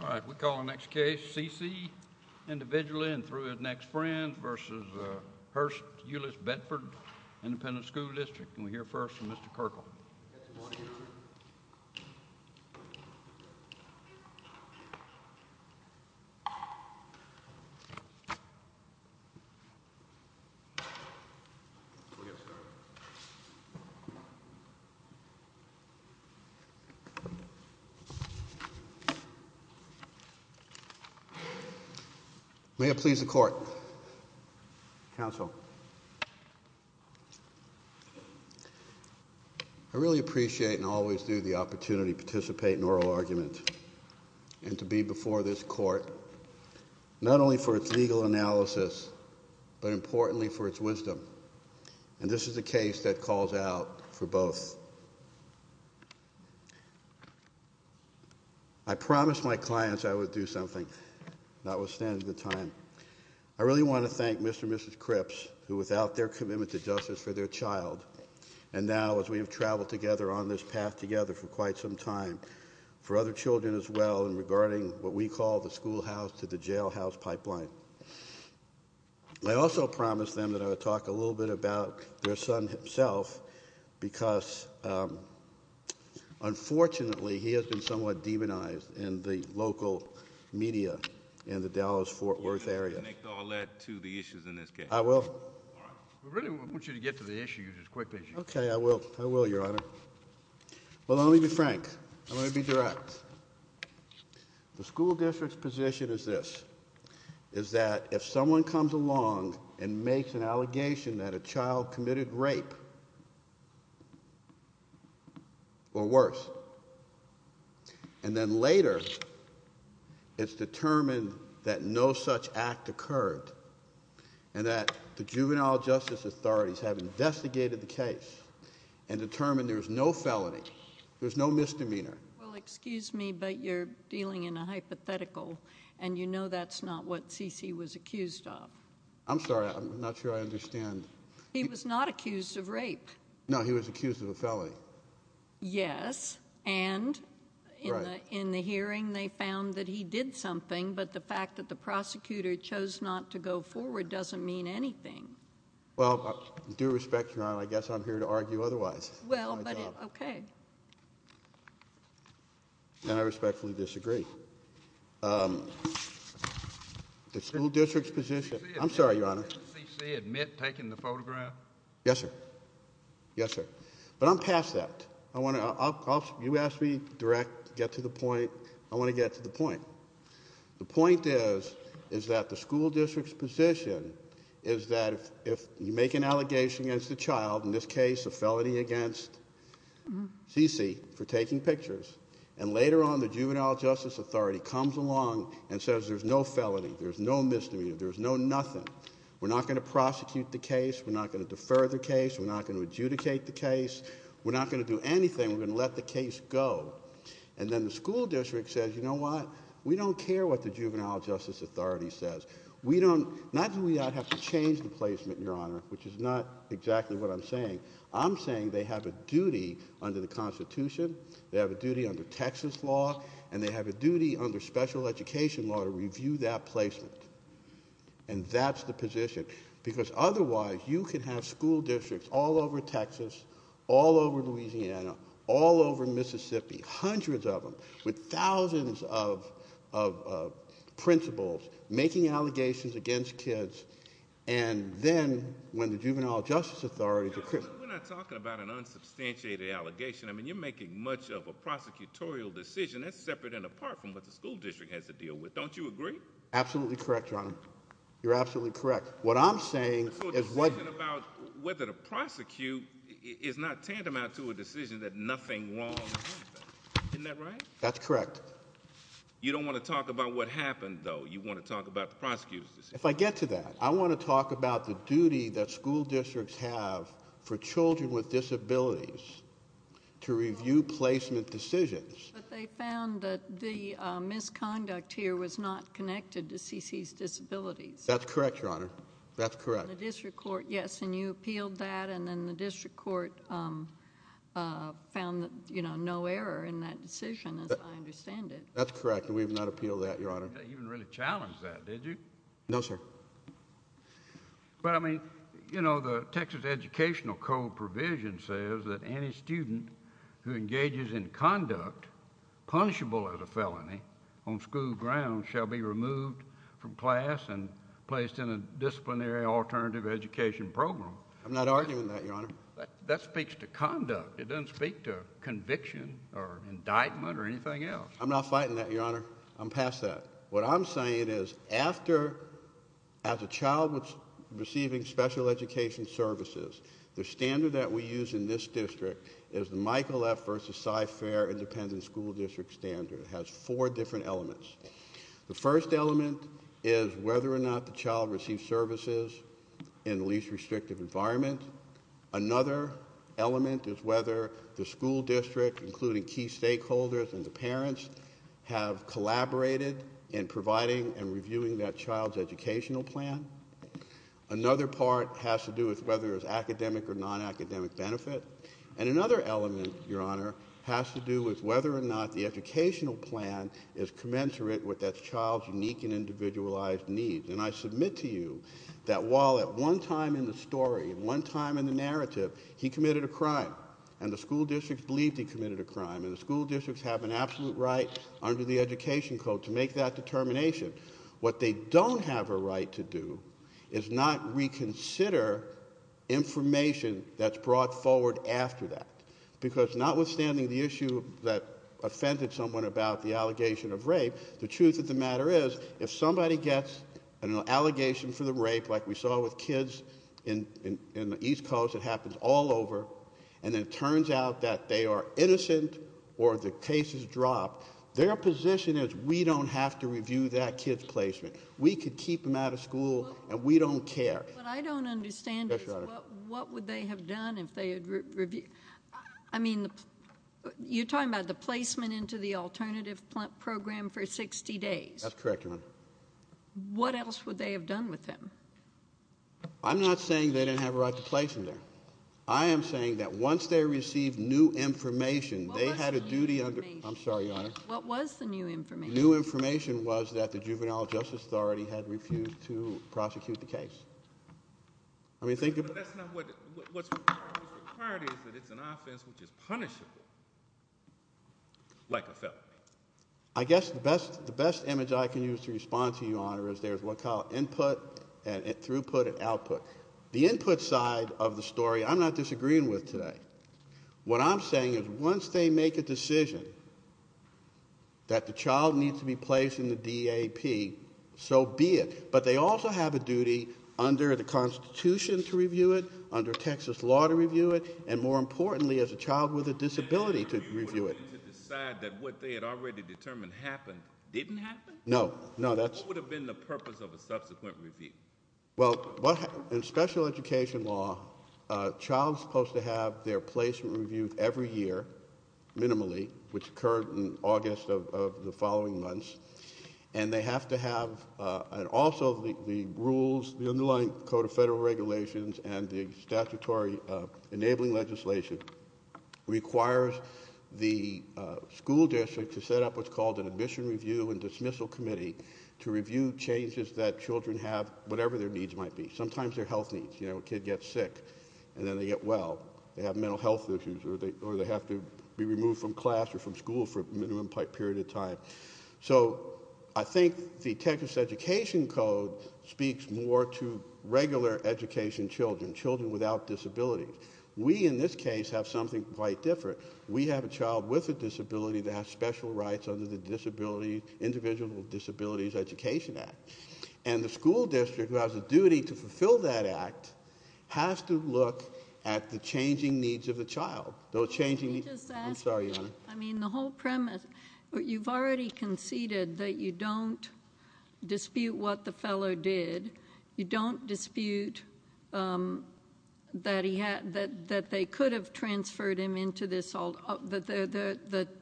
All right, we call the next case C. C. Individually and through his next friend versus Hearst Euless Bedford Independent School District and we hear first from Mr. Kirkl. I really appreciate and always do the opportunity to participate in oral argument and to be before this court not only for its legal analysis but importantly for its wisdom and this is a case that calls out for both. I promised my clients I would do something. Notwithstanding the time I really want to thank Mr. Mrs. Crips who without their commitment to justice for their child and now as we have traveled together on this path together for quite some time for other children as well and regarding what we call the schoolhouse to the jailhouse pipeline. I also promised them that I would talk a little bit about their son himself because. Unfortunately he has been somewhat demonized in the local media in the Dallas Fort Worth area. All that to the issues in this case I will really want you to get to the issues as quickly as you can. I will. I will. Your honor will only be frank. I'm going to be direct. The school district's position is this is that if someone comes along and makes an allegation that a child committed rape. Or worse and then later it's determined that no such act occurred and that the juvenile justice authorities have investigated the case and determined there is no felony there's no misdemeanor. Well excuse me but you're dealing in a hypothetical and you know that's not what CC was accused of. I'm sorry I'm not sure I understand. He was not accused of rape. No he was accused of a felony. Yes. And in the hearing they found that he did something but the fact that the prosecutor chose not to go forward doesn't mean anything. Well due respect your honor I guess I'm here to argue otherwise. Well OK. And I respectfully disagree. The school district's position. I'm sorry your honor. Did CC admit taking the photograph. Yes sir. Yes sir. But I'm past that. I want to, you asked me direct to get to the point. I want to get to the point. The point is, is that the school district's position is that if you make an allegation against a child, in this case a felony against CC for taking pictures. And later on the juvenile justice authority comes along and says there's no felony, there's no misdemeanor, there's no nothing. We're not going to prosecute the case, we're not going to defer the case, we're not going to adjudicate the case. We're not going to do anything, we're going to let the case go. And then the school district says, you know what, we don't care what the juvenile justice authority says. We don't, not that we have to change the placement your honor, which is not exactly what I'm saying. I'm saying they have a duty under the constitution, they have a duty under Texas law, and they have a duty under special education law to review that placement. And that's the position, because otherwise, you could have school districts all over Texas, all over Louisiana, all over Mississippi, hundreds of them, with thousands of principals making allegations against kids. And then, when the juvenile justice authority declares- We're not talking about an unsubstantiated allegation. I mean, you're making much of a prosecutorial decision. That's separate and apart from what the school district has to deal with. Don't you agree? Absolutely correct, your honor. You're absolutely correct. What I'm saying is what- So a decision about whether to prosecute is not tantamount to a decision that nothing wrong happened, isn't that right? That's correct. You don't want to talk about what happened though, you want to talk about the prosecutor's decision. If I get to that, I want to talk about the duty that school districts have for children with disabilities to review placement decisions. But they found that the misconduct here was not connected to CeCe's disabilities. That's correct, your honor. That's correct. The district court, yes, and you appealed that, and then the district court found, you know, no error in that decision, as I understand it. That's correct, and we have not appealed that, your honor. You didn't really challenge that, did you? No, sir. But I mean, you know, the Texas Educational Code provision says that any student who engages in conduct punishable as a felony on school grounds shall be removed from class and placed in a disciplinary alternative education program. I'm not arguing that, your honor. That speaks to conduct. It doesn't speak to conviction or indictment or anything else. I'm not fighting that, your honor. I'm past that. What I'm saying is after, as a child was receiving special education services, the standard that we use in this district is the Michael F versus Cy Fair Independent School District Standard. It has four different elements. The first element is whether or not the child received services in the least restrictive environment. Another element is whether the school district, including key stakeholders and the parents, have collaborated in providing and reviewing that child's educational plan. Another part has to do with whether it's academic or non-academic benefit. And another element, your honor, has to do with whether or not the educational plan is commensurate with that child's unique and individualized needs. And I submit to you that while at one time in the story, at one time in the narrative, he committed a crime, and the school district believed he committed a crime, and the school districts have an absolute right under the education code to make that determination, what they don't have a right to do is not reconsider information that's brought forward after that. Because notwithstanding the issue that offended someone about the allegation of rape, the truth of the matter is, if somebody gets an allegation for the rape, like we saw with kids in the East Coast, it happens all over, and it turns out that they are innocent or the case is dropped, their position is we don't have to review that kid's placement. We could keep them out of school and we don't care. But I don't understand what would they have done if they had reviewed, I mean, you're talking about the placement into the alternative program for 60 days. That's correct, your honor. What else would they have done with him? I'm not saying they didn't have a right to place him there. I am saying that once they received new information, they had a duty under- I'm sorry, your honor. What was the new information? New information was that the Juvenile Justice Authority had refused to prosecute the case. I mean, think about- But that's not what, what's required is that it's an offense which is punishable. Like a felony. I guess the best image I can use to respond to you, your honor, is there's what's called input, throughput, and output. The input side of the story, I'm not disagreeing with today. What I'm saying is once they make a decision that the child needs to be placed in the DAP, so be it. But they also have a duty under the Constitution to review it, under Texas law to review it, and more importantly, as a child with a disability to review it. And they had a duty to decide that what they had already determined happened didn't happen? No. No, that's- What would have been the purpose of a subsequent review? Well, in special education law, a child's supposed to have their placement reviewed every year, minimally, which occurred in August of the following months. And they have to have, and also the rules, the underlying code of federal regulations and the statutory enabling legislation requires the school district to set up what's called an admission review and dismissal committee to review changes that children have, whatever their needs might be. Sometimes their health needs, you know, a kid gets sick and then they get well, they have mental health issues or they have to be removed from class or from school for a minimum period of time. So I think the Texas education code speaks more to regular education children, children without disabilities. We, in this case, have something quite different. We have a child with a disability that has special rights under the disability, individual disabilities education act. And the school district, who has a duty to fulfill that act, has to look at the changing needs of the child. Those changing needs- Can I just ask- I'm sorry, Your Honor. I mean, the whole premise, you've already conceded that you don't dispute what the result, that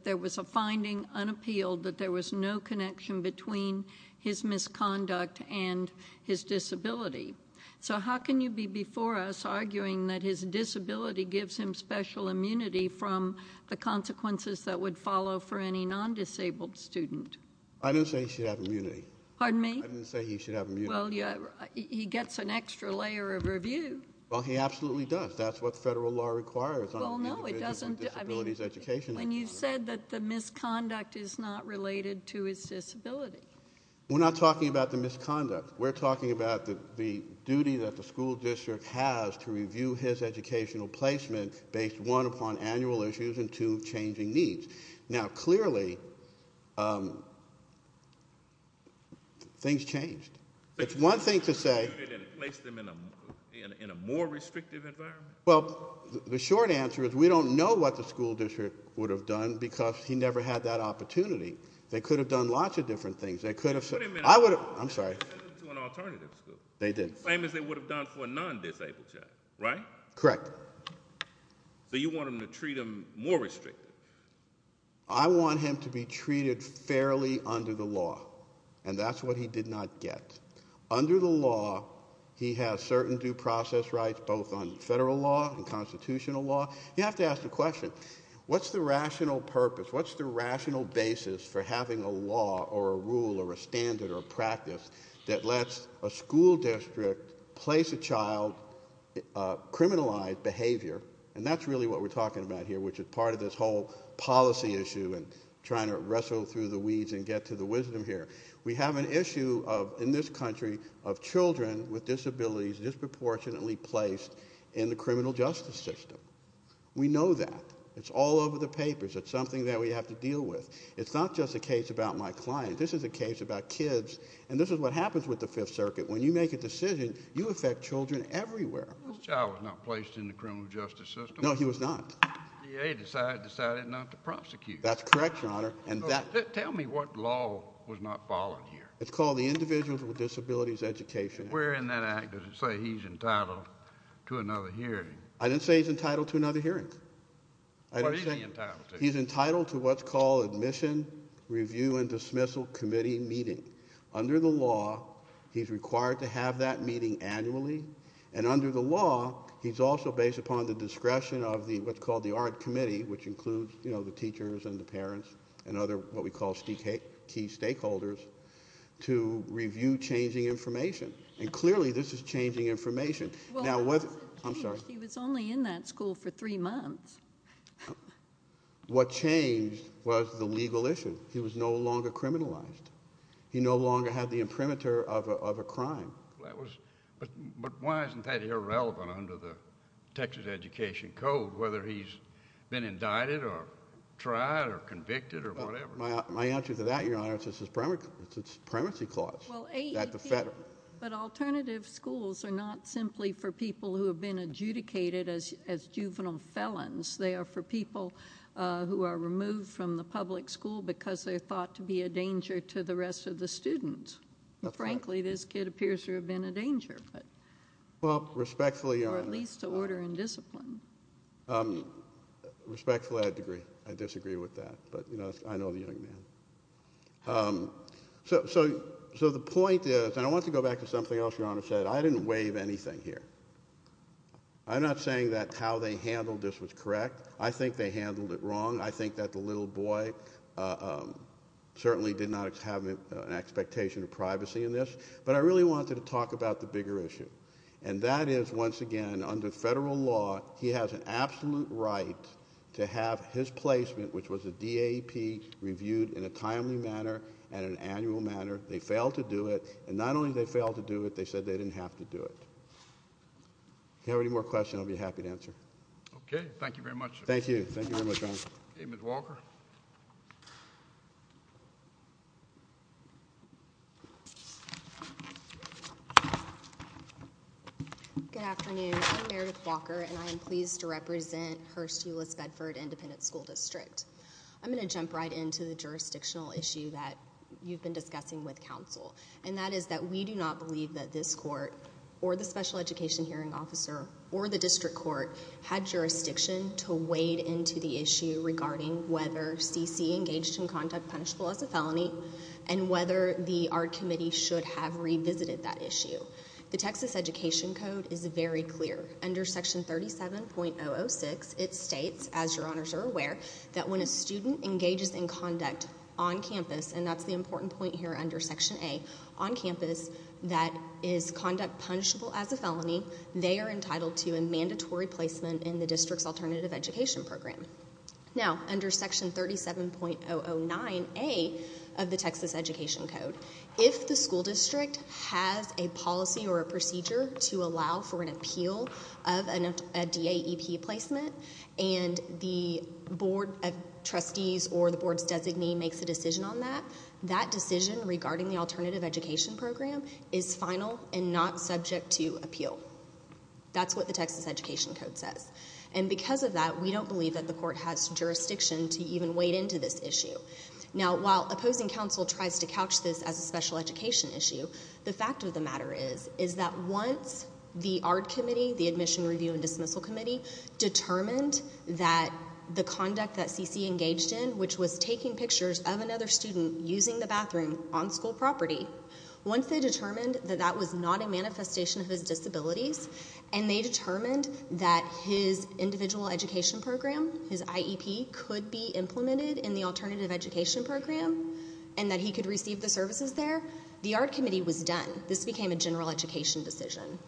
there was a finding unappealed that there was no connection between his misconduct and his disability. So how can you be before us arguing that his disability gives him special immunity from the consequences that would follow for any non-disabled student? I didn't say he should have immunity. Pardon me? I didn't say he should have immunity. Well, he gets an extra layer of review. Well, he absolutely does. That's what federal law requires. Well, no, it doesn't. I mean, when you said that the misconduct is not related to his disability. We're not talking about the misconduct. We're talking about the duty that the school district has to review his educational placement based, one, upon annual issues, and two, changing needs. Now, clearly, things changed. It's one thing to say- But you didn't place them in a more restrictive environment? Well, the short answer is we don't know what the school district would have done because he never had that opportunity. They could have done lots of different things. They could have- Wait a minute. I would- I'm sorry. They could have sent him to an alternative school. They did. Same as they would have done for a non-disabled child, right? Correct. So you want them to treat him more restrictive? I want him to be treated fairly under the law, and that's what he did not get. Under the law, he has certain due process rights, both on federal law and constitutional law. You have to ask the question, what's the rational purpose? What's the rational basis for having a law or a rule or a standard or a practice that lets a school district place a child, criminalize behavior? And that's really what we're talking about here, which is part of this whole policy issue and trying to wrestle through the weeds and get to the wisdom here. We have an issue in this country of children with disabilities disproportionately placed in the criminal justice system. We know that. It's all over the papers. It's something that we have to deal with. It's not just a case about my client. This is a case about kids, and this is what happens with the Fifth Circuit. When you make a decision, you affect children everywhere. This child was not placed in the criminal justice system. No, he was not. The DA decided not to prosecute. That's correct, Your Honor, and that- Tell me what law was not followed here. It's called the Individuals with Disabilities Education Act. Where in that act does it say he's entitled to another hearing? I didn't say he's entitled to another hearing. What is he entitled to? He's entitled to what's called Admission, Review, and Dismissal Committee Meeting. Under the law, he's required to have that meeting annually, and under the law, he's also based upon the discretion of what's called the Art Committee, which includes the teachers and the parents and other what we call key stakeholders to review changing information. Clearly, this is changing information. Well, he wasn't changed. He was only in that school for three months. What changed was the legal issue. He was no longer criminalized. He no longer had the imprimatur of a crime. Why isn't that irrelevant under the Texas Education Code, whether he's been indicted or tried or convicted or whatever? My answer to that, Your Honor, is it's a supremacy clause. But alternative schools are not simply for people who have been adjudicated as juvenile felons. They are for people who are removed from the public school because they're thought to be a danger to the rest of the students. Frankly, this kid appears to have been a danger. Well, respectfully— Or at least to order and discipline. Um, respectfully, I disagree. I disagree with that. But, you know, I know the young man. So the point is—and I want to go back to something else Your Honor said. I didn't waive anything here. I'm not saying that how they handled this was correct. I think they handled it wrong. I think that the little boy certainly did not have an expectation of privacy in this. But I really wanted to talk about the bigger issue, and that is, once again, under federal law, he has an absolute right to have his placement, which was a DAP, reviewed in a timely manner and an annual manner. They failed to do it. And not only did they fail to do it, they said they didn't have to do it. If you have any more questions, I'll be happy to answer. Okay. Thank you very much, Your Honor. Thank you. Thank you very much, Your Honor. Amy Walker. Good afternoon. I'm Meredith Walker, and I am pleased to represent Hearst-Ulis-Bedford Independent School District. I'm going to jump right into the jurisdictional issue that you've been discussing with counsel, and that is that we do not believe that this court or the special education hearing officer or the district court had jurisdiction to wade into the issue regarding whether C.C. engaged in conduct punishable as a felony and whether the art committee should have revisited that issue. The Texas Education Code is very clear. Under Section 37.006, it states, as Your Honors are aware, that when a student engages in conduct on campus, and that's the important point here under Section A, on campus that is conduct punishable as a felony, they are entitled to a mandatory placement in the district's alternative education program. Now, under Section 37.009A of the Texas Education Code, if the school district has a policy or a procedure to allow for an appeal of a DAEP placement, and the board of trustees or the board's designee makes a decision on that, that decision regarding the alternative education program is final and not subject to appeal. That's what the Texas Education Code says. And because of that, we don't believe that the court has jurisdiction to even wade into this issue. Now, while opposing counsel tries to couch this as a special education issue, the fact of the matter is, is that once the ARD committee, the Admission Review and Dismissal Committee, determined that the conduct that CC engaged in, which was taking pictures of another student using the bathroom on school property, once they determined that that was not a manifestation of his disabilities, and they determined that his individual education program, his IEP, could be implemented in the alternative education program, and that he could receive the services there, the ARD committee was done. This became a general education decision.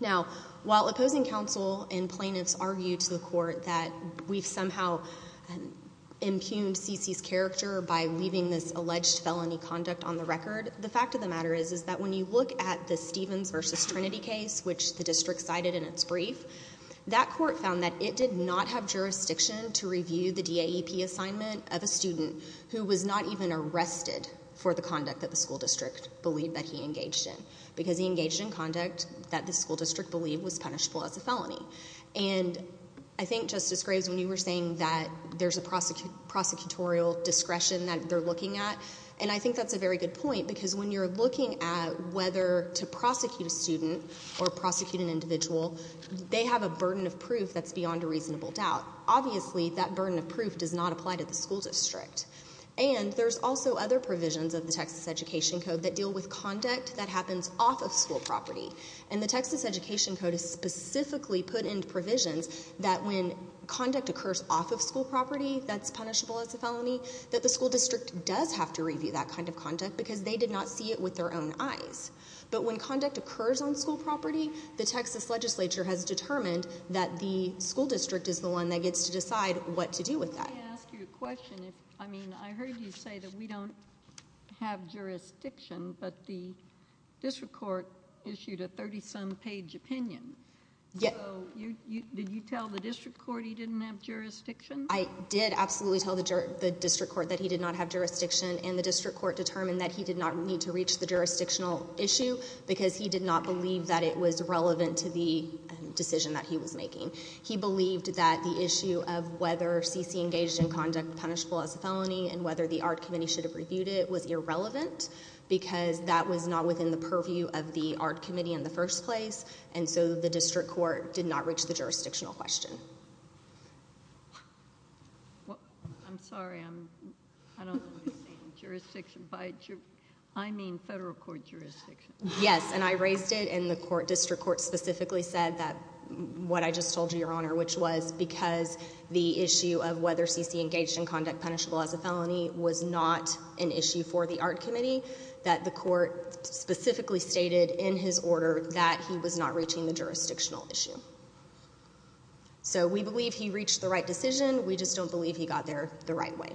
Now, while opposing counsel and plaintiffs argue to the court that we've somehow impugned CC's character by leaving this alleged felony conduct on the record, the fact of the matter is, is that when you look at the Stevens versus Trinity case, which the district cited in its brief, that court found that it did not have jurisdiction to review the DAEP assignment of a student who was not even arrested for the conduct that the school district believed that he engaged in, because he engaged in conduct that the school district believed was punishable as a felony. And I think, Justice Graves, when you were saying that there's a prosecutorial discretion that they're looking at, and I think that's a very good point, because when you're looking at whether to prosecute a student or prosecute an individual, they have a burden of proof that's beyond a reasonable doubt. Obviously, that burden of proof does not apply to the school district. And there's also other provisions of the Texas Education Code that deal with conduct that happens off of school property. And the Texas Education Code has specifically put in provisions that when conduct occurs off of school property that's punishable as a felony, that the school district does have to review that kind of conduct, because they did not see it with their own eyes. But when conduct occurs on school property, the Texas legislature has determined that the school district is the one that gets to decide what to do with that. Can I ask you a question? I mean, I heard you say that we don't have jurisdiction, but the district court issued a 30-some page opinion. So, did you tell the district court he didn't have jurisdiction? I did absolutely tell the district court that he did not have jurisdiction, and the district court determined that he did not need to reach the jurisdictional issue, because he did not believe that it was relevant to the decision that he was making. He believed that the issue of whether CC engaged in conduct punishable as a felony and whether the art committee should have reviewed it was irrelevant, because that was not within the purview of the art committee in the first place, and so the district court did not reach the jurisdictional question. I'm sorry, I don't know if you're saying jurisdiction by jurisdiction. I mean federal court jurisdiction. Yes, and I raised it in the court. The district court specifically said that, what I just told you, your honor, which was because the issue of whether CC engaged in conduct punishable as a felony was not an issue for the art committee, that the court specifically stated in his order that he was not reaching the jurisdictional issue. So we believe he reached the right decision. We just don't believe he got there the right way.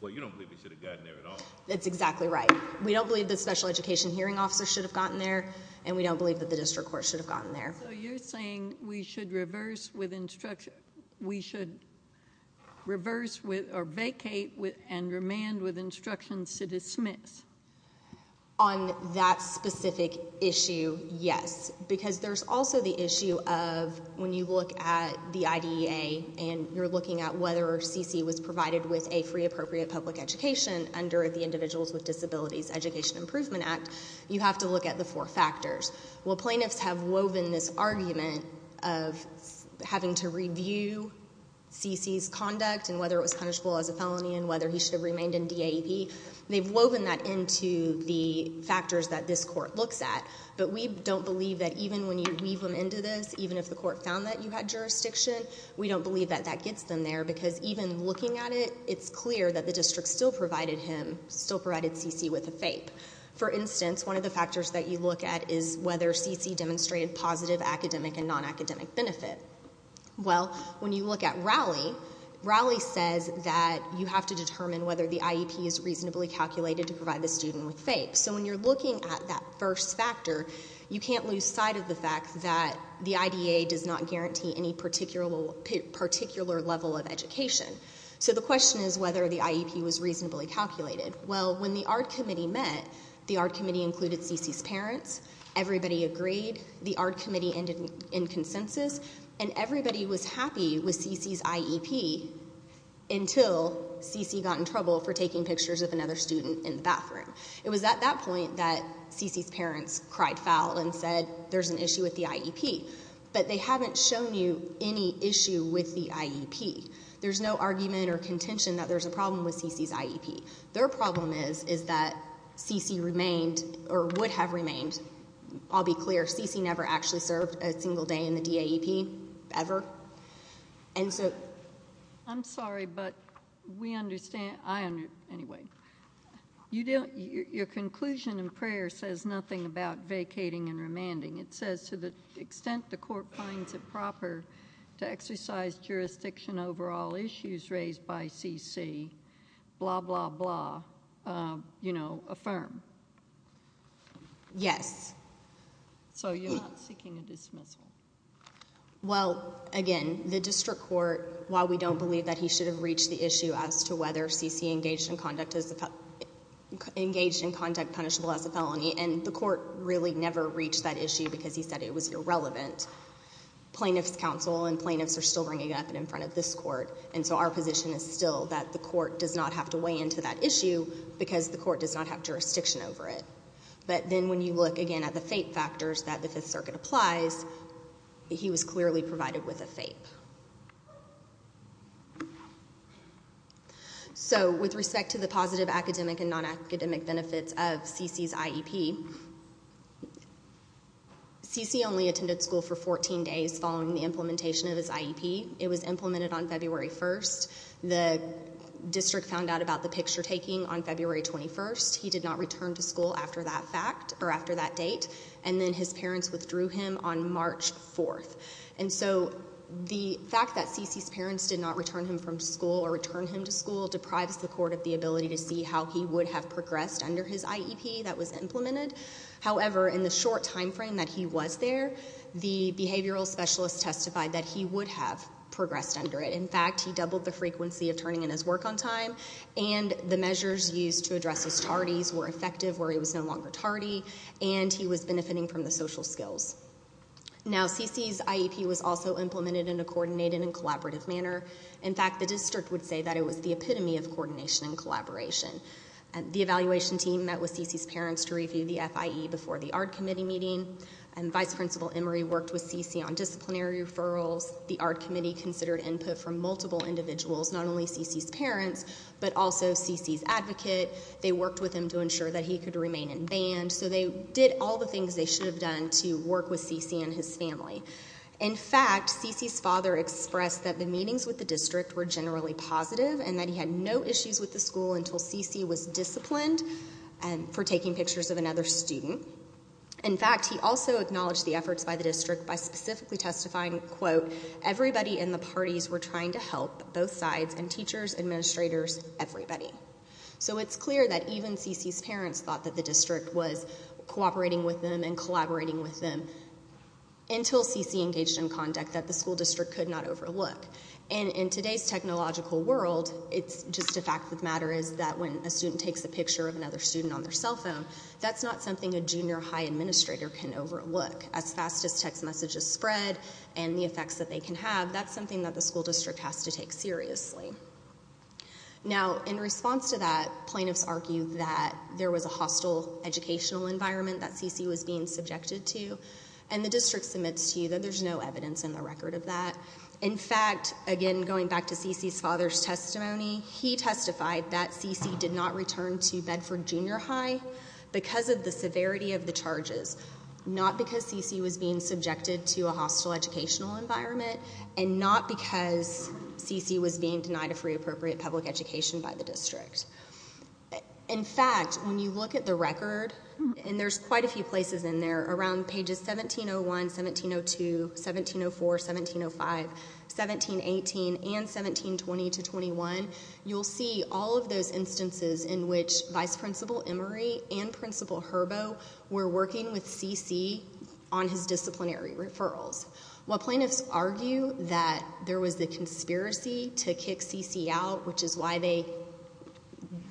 Well, you don't believe he should have gotten there at all. That's exactly right. We don't believe the special education hearing officer should have gotten there, and we don't believe that the district court should have gotten there. So you're saying we should reverse with instruction. We should reverse with or vacate with and remand with instructions to dismiss. On that specific issue, yes, because there's also the issue of when you look at the IDEA and you're looking at whether CC was provided with a free appropriate public education under the Individuals with Disabilities Education Improvement Act, you have to look at the four factors. Well, plaintiffs have woven this argument of having to review CC's conduct and whether it was punishable as a felony and whether he should have remained in DAEP. They've woven that into the factors that this court looks at. But we don't believe that even when you weave them into this, even if the court found that you had jurisdiction, we don't believe that that gets them there because even looking at it, it's clear that the district still provided him, still provided CC with a FAPE. For instance, one of the factors that you look at is whether CC demonstrated positive academic and non-academic benefit. Well, when you look at Rowley, Rowley says that you have to determine whether the IEP is reasonably calculated to provide the student with FAPE. So when you're looking at that first factor, you can't lose sight of the fact that the IDEA does not guarantee any particular level of education. So the question is whether the IEP was reasonably calculated. Well, when the ARD committee met, the ARD committee included CC's parents. Everybody agreed. The ARD committee ended in consensus. And everybody was happy with CC's IEP until CC got in trouble for taking pictures of another student in the bathroom. It was at that point that CC's parents cried foul and said, there's an issue with the IEP. But they haven't shown you any issue with the IEP. There's no argument or contention that there's a problem with CC's IEP. Their problem is, is that CC remained or would have remained. I'll be clear. CC never actually served a single day in the DAEP, ever. And so I'm sorry, but we understand. I under, anyway, you don't, your conclusion in prayer says nothing about vacating and remanding. It says to the extent the court finds it proper to exercise jurisdiction over all issues raised by CC, blah, blah, blah, you know, affirm. Yes. So you're not seeking a dismissal? Well, again, the district court, while we don't believe that he should have reached the issue as to whether CC engaged in conduct as a, engaged in conduct punishable as a felony, and the court really never reached that issue because he said it was irrelevant. Plaintiff's counsel and plaintiffs are still bringing it up in front of this court. And so our position is still that the court does not have to weigh into that issue because the court does not have jurisdiction over it. But then when you look, again, at the FAPE factors that the Fifth Circuit applies, he was clearly provided with a FAPE. So, with respect to the positive academic and non-academic benefits of CC's IEP, CC only attended school for 14 days following the implementation of his IEP. It was implemented on February 1st. The district found out about the picture taking on February 21st. He did not return to school after that fact, or after that date. And then his parents withdrew him on March 4th. And so, the fact that CC's parents did not return him from school or return him to school deprives the court of the ability to see how he would have progressed under his IEP that was implemented. However, in the short time frame that he was there, the behavioral specialist testified that he would have progressed under it. In fact, he doubled the frequency of turning in his work on time, and the measures used to address his tardies were effective where he was no longer tardy, and he was benefiting from the social skills. Now, CC's IEP was also implemented in a coordinated and collaborative manner. In fact, the district would say that it was the epitome of coordination and collaboration. The evaluation team met with CC's parents to review the FIE before the ARD committee meeting, and Vice Principal Emery worked with CC on disciplinary referrals. The ARD committee considered input from multiple individuals, not only CC's parents, but also CC's advocate. They worked with him to ensure that he could remain in band. So they did all the things they should have done to work with CC and his family. In fact, CC's father expressed that the meetings with the district were generally positive and that he had no issues with the school until CC was disciplined for taking pictures of another student. In fact, he also acknowledged the efforts by the district by specifically testifying, quote, everybody in the parties were trying to help, both sides, and teachers, administrators, everybody. So it's clear that even CC's parents thought that the district was cooperating with them and collaborating with them until CC engaged in conduct that the school district could not overlook. And in today's technological world, it's just a fact of the matter is that when a student takes a picture of another student on their cell phone, that's not something a junior high administrator can overlook. As fast as text messages spread and the effects that they can have, that's something that the school district has to take seriously. Now, in response to that, plaintiffs argued that there was a hostile educational environment that CC was being subjected to. And the district submits to you that there's no evidence in the record of that. In fact, again, going back to CC's father's testimony, he testified that CC did not return to Bedford Junior High because of the severity of the charges, not because CC was being subjected to a hostile educational environment, and not because CC was being denied a free appropriate public education by the district. In fact, when you look at the record, and there's quite a few places in there, around pages 1701, 1702, 1704, 1705, 1718, and 1720 to 21, you'll see all of those instances in which Vice Principal Emery and Principal Herbo were working with CC on his disciplinary referrals. While plaintiffs argue that there was a conspiracy to kick CC out, which is why they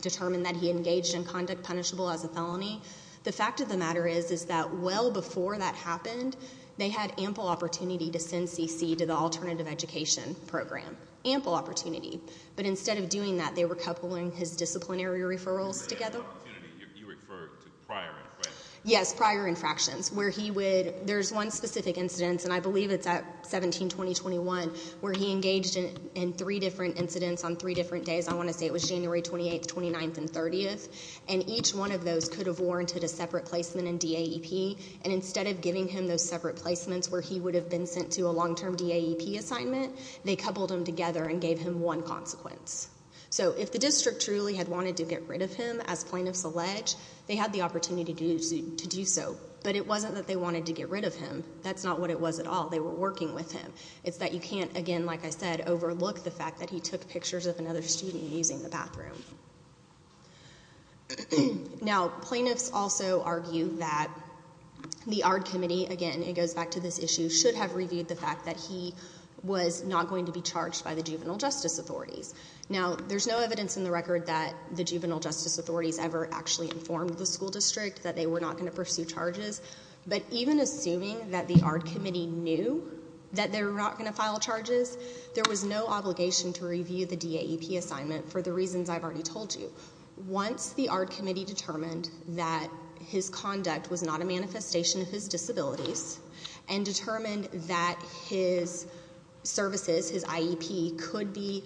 determined that he engaged in conduct punishable as a felony, the fact of the matter is, is that well before that happened, they had ample opportunity to send CC to the alternative education program. Ample opportunity. But instead of doing that, they were coupling his disciplinary referrals together. You refer to prior infractions? Yes, prior infractions. There's one specific incidence, and I believe it's at 1720-21, where he engaged in three different incidents on three different days. I want to say it was January 28th, 29th, and 30th, and each one of those could have warranted a separate placement in DAEP, and instead of giving him those separate placements where he would have been sent to a long-term DAEP assignment, they coupled them together and gave him one consequence. So if the district truly had wanted to get rid of him, as plaintiffs allege, they had the opportunity to do so. But it wasn't that they wanted to get rid of him. That's not what it was at all. They were working with him. It's that you can't, again, like I said, overlook the fact that he took pictures of another student using the bathroom. Now, plaintiffs also argue that the ARD committee, again, it goes back to this issue, should have reviewed the fact that he was not going to be charged by the juvenile justice authorities. Now, there's no evidence in the record that the juvenile justice authorities ever actually informed the school district that they were not going to pursue charges, but even assuming that the ARD committee knew that they were not going to file charges, there was no obligation to review the DAEP assignment for the reasons I've already told you. Once the ARD committee determined that his conduct was not a manifestation of his disabilities and determined that his services, his IEP, could be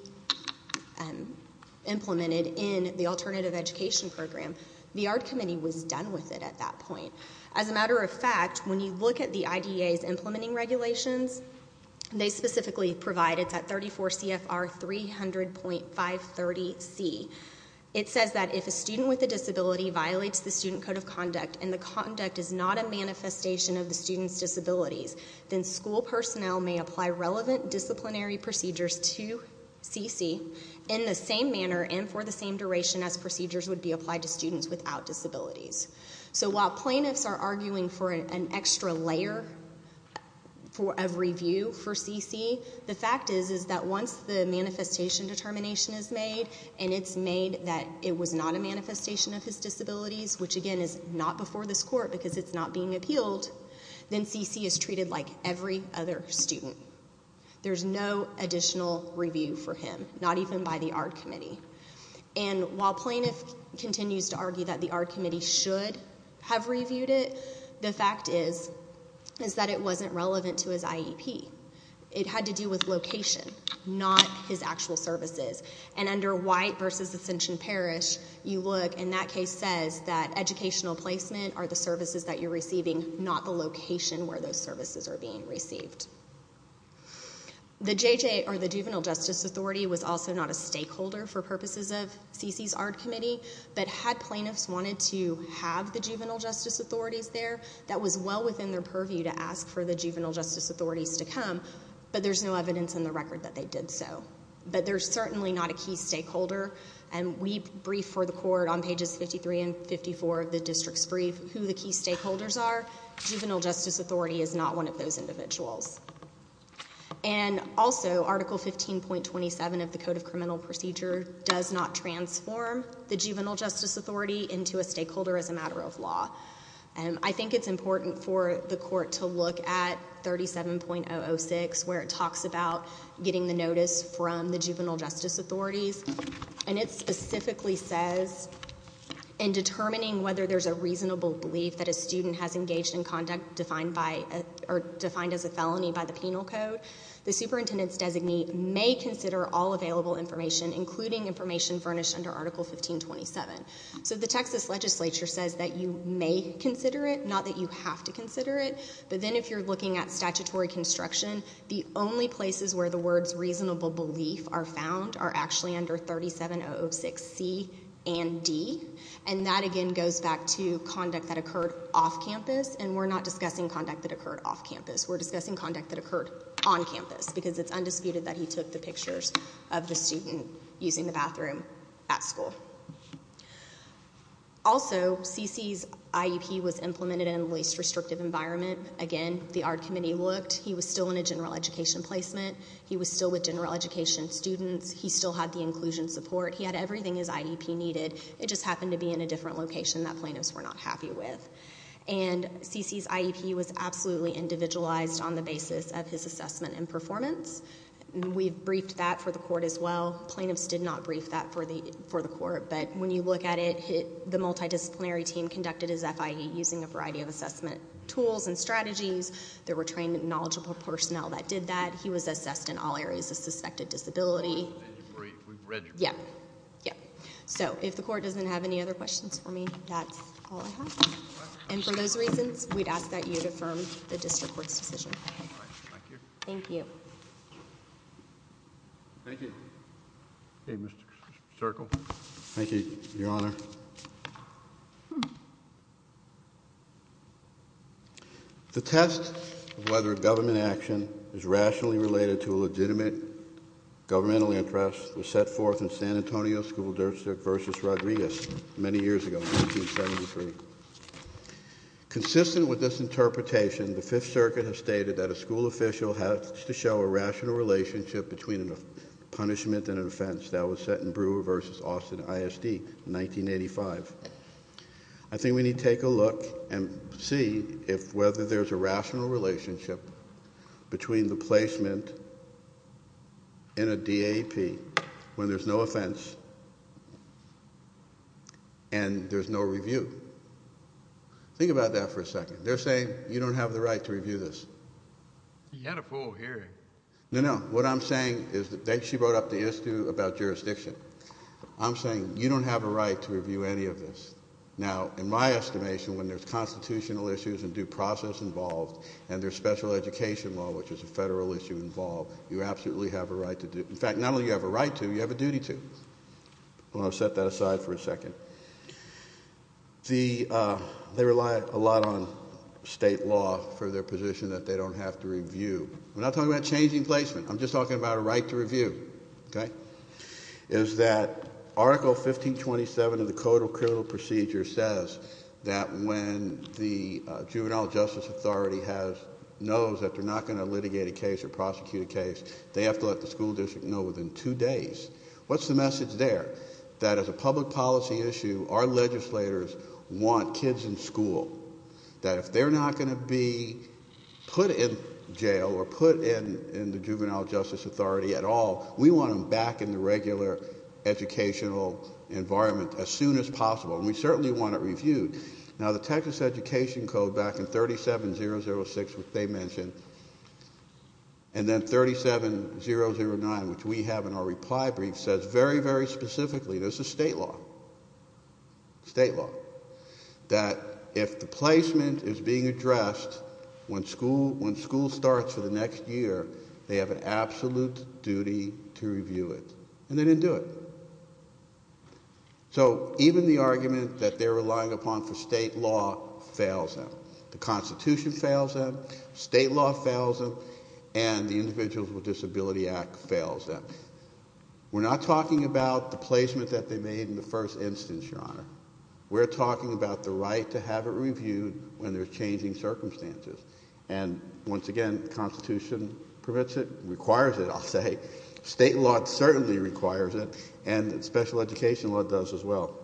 implemented in the alternative education program, the ARD committee was done with it at that point. As a matter of fact, when you look at the IDA's implementing regulations, they specifically provide, it's at 34 CFR 300.530C, it says that if a student with a disability violates the student code of conduct and the conduct is not a manifestation of the student's disabilities, then school personnel may apply relevant disciplinary procedures to CC in the same manner and for the same duration as procedures would be applied to students without disabilities. So while plaintiffs are arguing for an extra layer of review for CC, the fact is is that once the manifestation determination is made and it's made that it was not a manifestation of his disabilities, which again is not before this court because it's not being appealed, then CC is treated like every other student. There's no additional review for him, not even by the ARD committee. And while plaintiff continues to argue that the ARD committee should have reviewed it, the fact is is that it wasn't relevant to his IEP. It had to do with location, not his actual services. And under White versus Ascension Parish, you look and that case says that educational placement are the services that you're receiving, not the location where those services are being received. The JJ or the Juvenile Justice Authority was also not a stakeholder for purposes of CC's ARD committee, but had plaintiffs wanted to have the Juvenile Justice Authorities there, that was well within their purview to ask for the Juvenile Justice Authorities to come, but there's no evidence in the record that they did so. But they're certainly not a key stakeholder. And we brief for the court on pages 53 and 54 of the district's brief who the key stakeholders are. Juvenile Justice Authority is not one of those individuals. And also, Article 15.27 of the Code of Criminal Procedure does not transform the Juvenile Justice Authority into a stakeholder as a matter of law. I think it's important for the court to look at 37.006, where it talks about getting the Juvenile Justice Authorities, and it specifically says, in determining whether there's a reasonable belief that a student has engaged in conduct defined as a felony by the penal code, the superintendent's designee may consider all available information, including information furnished under Article 15.27. So the Texas legislature says that you may consider it, not that you have to consider it. But then if you're looking at statutory construction, the only places where the words reasonable belief are found are actually under 37.006C and D. And that, again, goes back to conduct that occurred off campus. And we're not discussing conduct that occurred off campus. We're discussing conduct that occurred on campus. Because it's undisputed that he took the pictures of the student using the bathroom at school. Also, CC's IEP was implemented in a least restrictive environment. Again, the ARD committee looked. He was still in a general education placement. He was still with general education students. He still had the inclusion support. He had everything his IEP needed. It just happened to be in a different location that plaintiffs were not happy with. And CC's IEP was absolutely individualized on the basis of his assessment and performance. We've briefed that for the court as well. Plaintiffs did not brief that for the court. But when you look at it, the multidisciplinary team conducted his FIE using a variety of assessment tools and strategies. There were trained and knowledgeable personnel that did that. He was assessed in all areas of suspected disability. Yeah. Yeah. So if the court doesn't have any other questions for me, that's all I have. And for those reasons, we'd ask that you affirm the district court's decision. Thank you. Thank you. Okay, Mr. Circle. Thank you, Your Honor. The test of whether a government action is rationally related to a legitimate governmental interest was set forth in San Antonio School District v. Rodriguez many years ago, 1973. Consistent with this interpretation, the Fifth Circuit has stated that a school official has to show a rational relationship between a punishment and an offense that was set in Brewer v. Austin ISD, 1983. 1985. I think we need to take a look and see if whether there's a rational relationship between the placement in a DAP when there's no offense and there's no review. Think about that for a second. They're saying you don't have the right to review this. You had a full hearing. No, no. What I'm saying is that she brought up the issue about jurisdiction. I'm saying you don't have a right to review any of this. Now, in my estimation, when there's constitutional issues and due process involved and there's special education law, which is a federal issue involved, you absolutely have a right to do it. In fact, not only do you have a right to, you have a duty to. I'm going to set that aside for a second. They rely a lot on state law for their position that they don't have to review. I'm not talking about changing placement. I'm just talking about a right to review, okay? Is that Article 1527 of the Code of Criminal Procedure says that when the Juvenile Justice Authority knows that they're not going to litigate a case or prosecute a case, they have to let the school district know within two days. What's the message there? That as a public policy issue, our legislators want kids in school. That if they're not going to be put in jail or put in the Juvenile Justice Authority at all, we want them back in the regular educational environment as soon as possible. And we certainly want it reviewed. Now, the Texas Education Code back in 37-006, which they mentioned, and then 37-009, which we have in our reply brief, says very, very specifically, this is state law, state law, that if the placement is being addressed, when school starts for the next year, they have an absolute duty to review it. And they didn't do it. So even the argument that they're relying upon for state law fails them. The Constitution fails them, state law fails them, and the Individuals with Disability Act fails them. We're not talking about the placement that they made in the first instance, Your Honor. We're talking about the right to have it reviewed when there's changing circumstances. And once again, the Constitution permits it, requires it, I'll say. State law certainly requires it. And special education law does as well.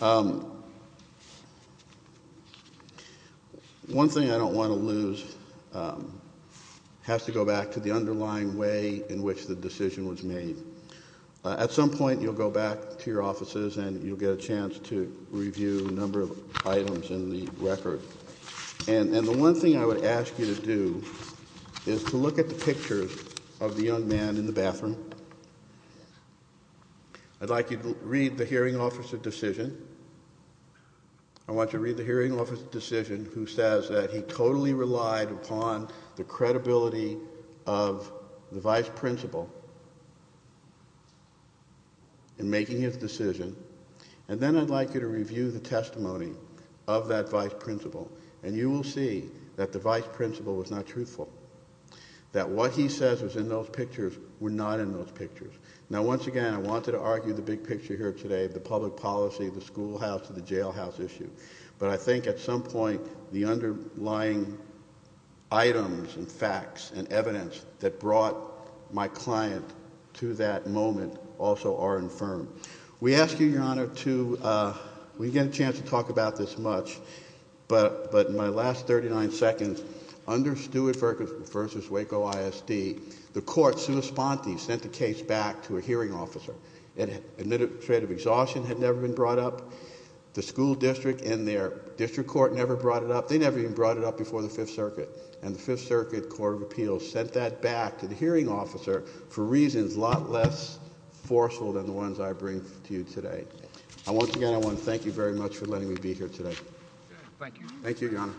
One thing I don't want to lose has to go back to the underlying way in which the decision was made. At some point, you'll go back to your offices and you'll get a chance to review a number of items in the record. And the one thing I would ask you to do is to look at the pictures of the young man in the bathroom. I'd like you to read the hearing officer's decision. I want you to read the hearing officer's decision who says that he totally relied upon the credibility of the vice principal in making his decision. And then I'd like you to review the testimony of that vice principal. And you will see that the vice principal was not truthful, that what he says was in those pictures were not in those pictures. Now, once again, I wanted to argue the big picture here today, the public policy, the schoolhouse, and the jailhouse issue. But I think at some point, the underlying items and facts and evidence that brought my client to that moment also are infirmed. We ask you, Your Honor, to, we didn't get a chance to talk about this much, but in my last 39 seconds, under Stewart v. Waco ISD, the court, sua sponte, sent the case back to a hearing officer. An administrative exhaustion had never been brought up. The school district and their district court never brought it up. They never even brought it up before the Fifth Circuit. And the Fifth Circuit Court of Appeals sent that back to the hearing officer for reasons a lot less forceful than the ones I bring to you today. And once again, I want to thank you very much for letting me be here today. Thank you. Thank you, Your Honor.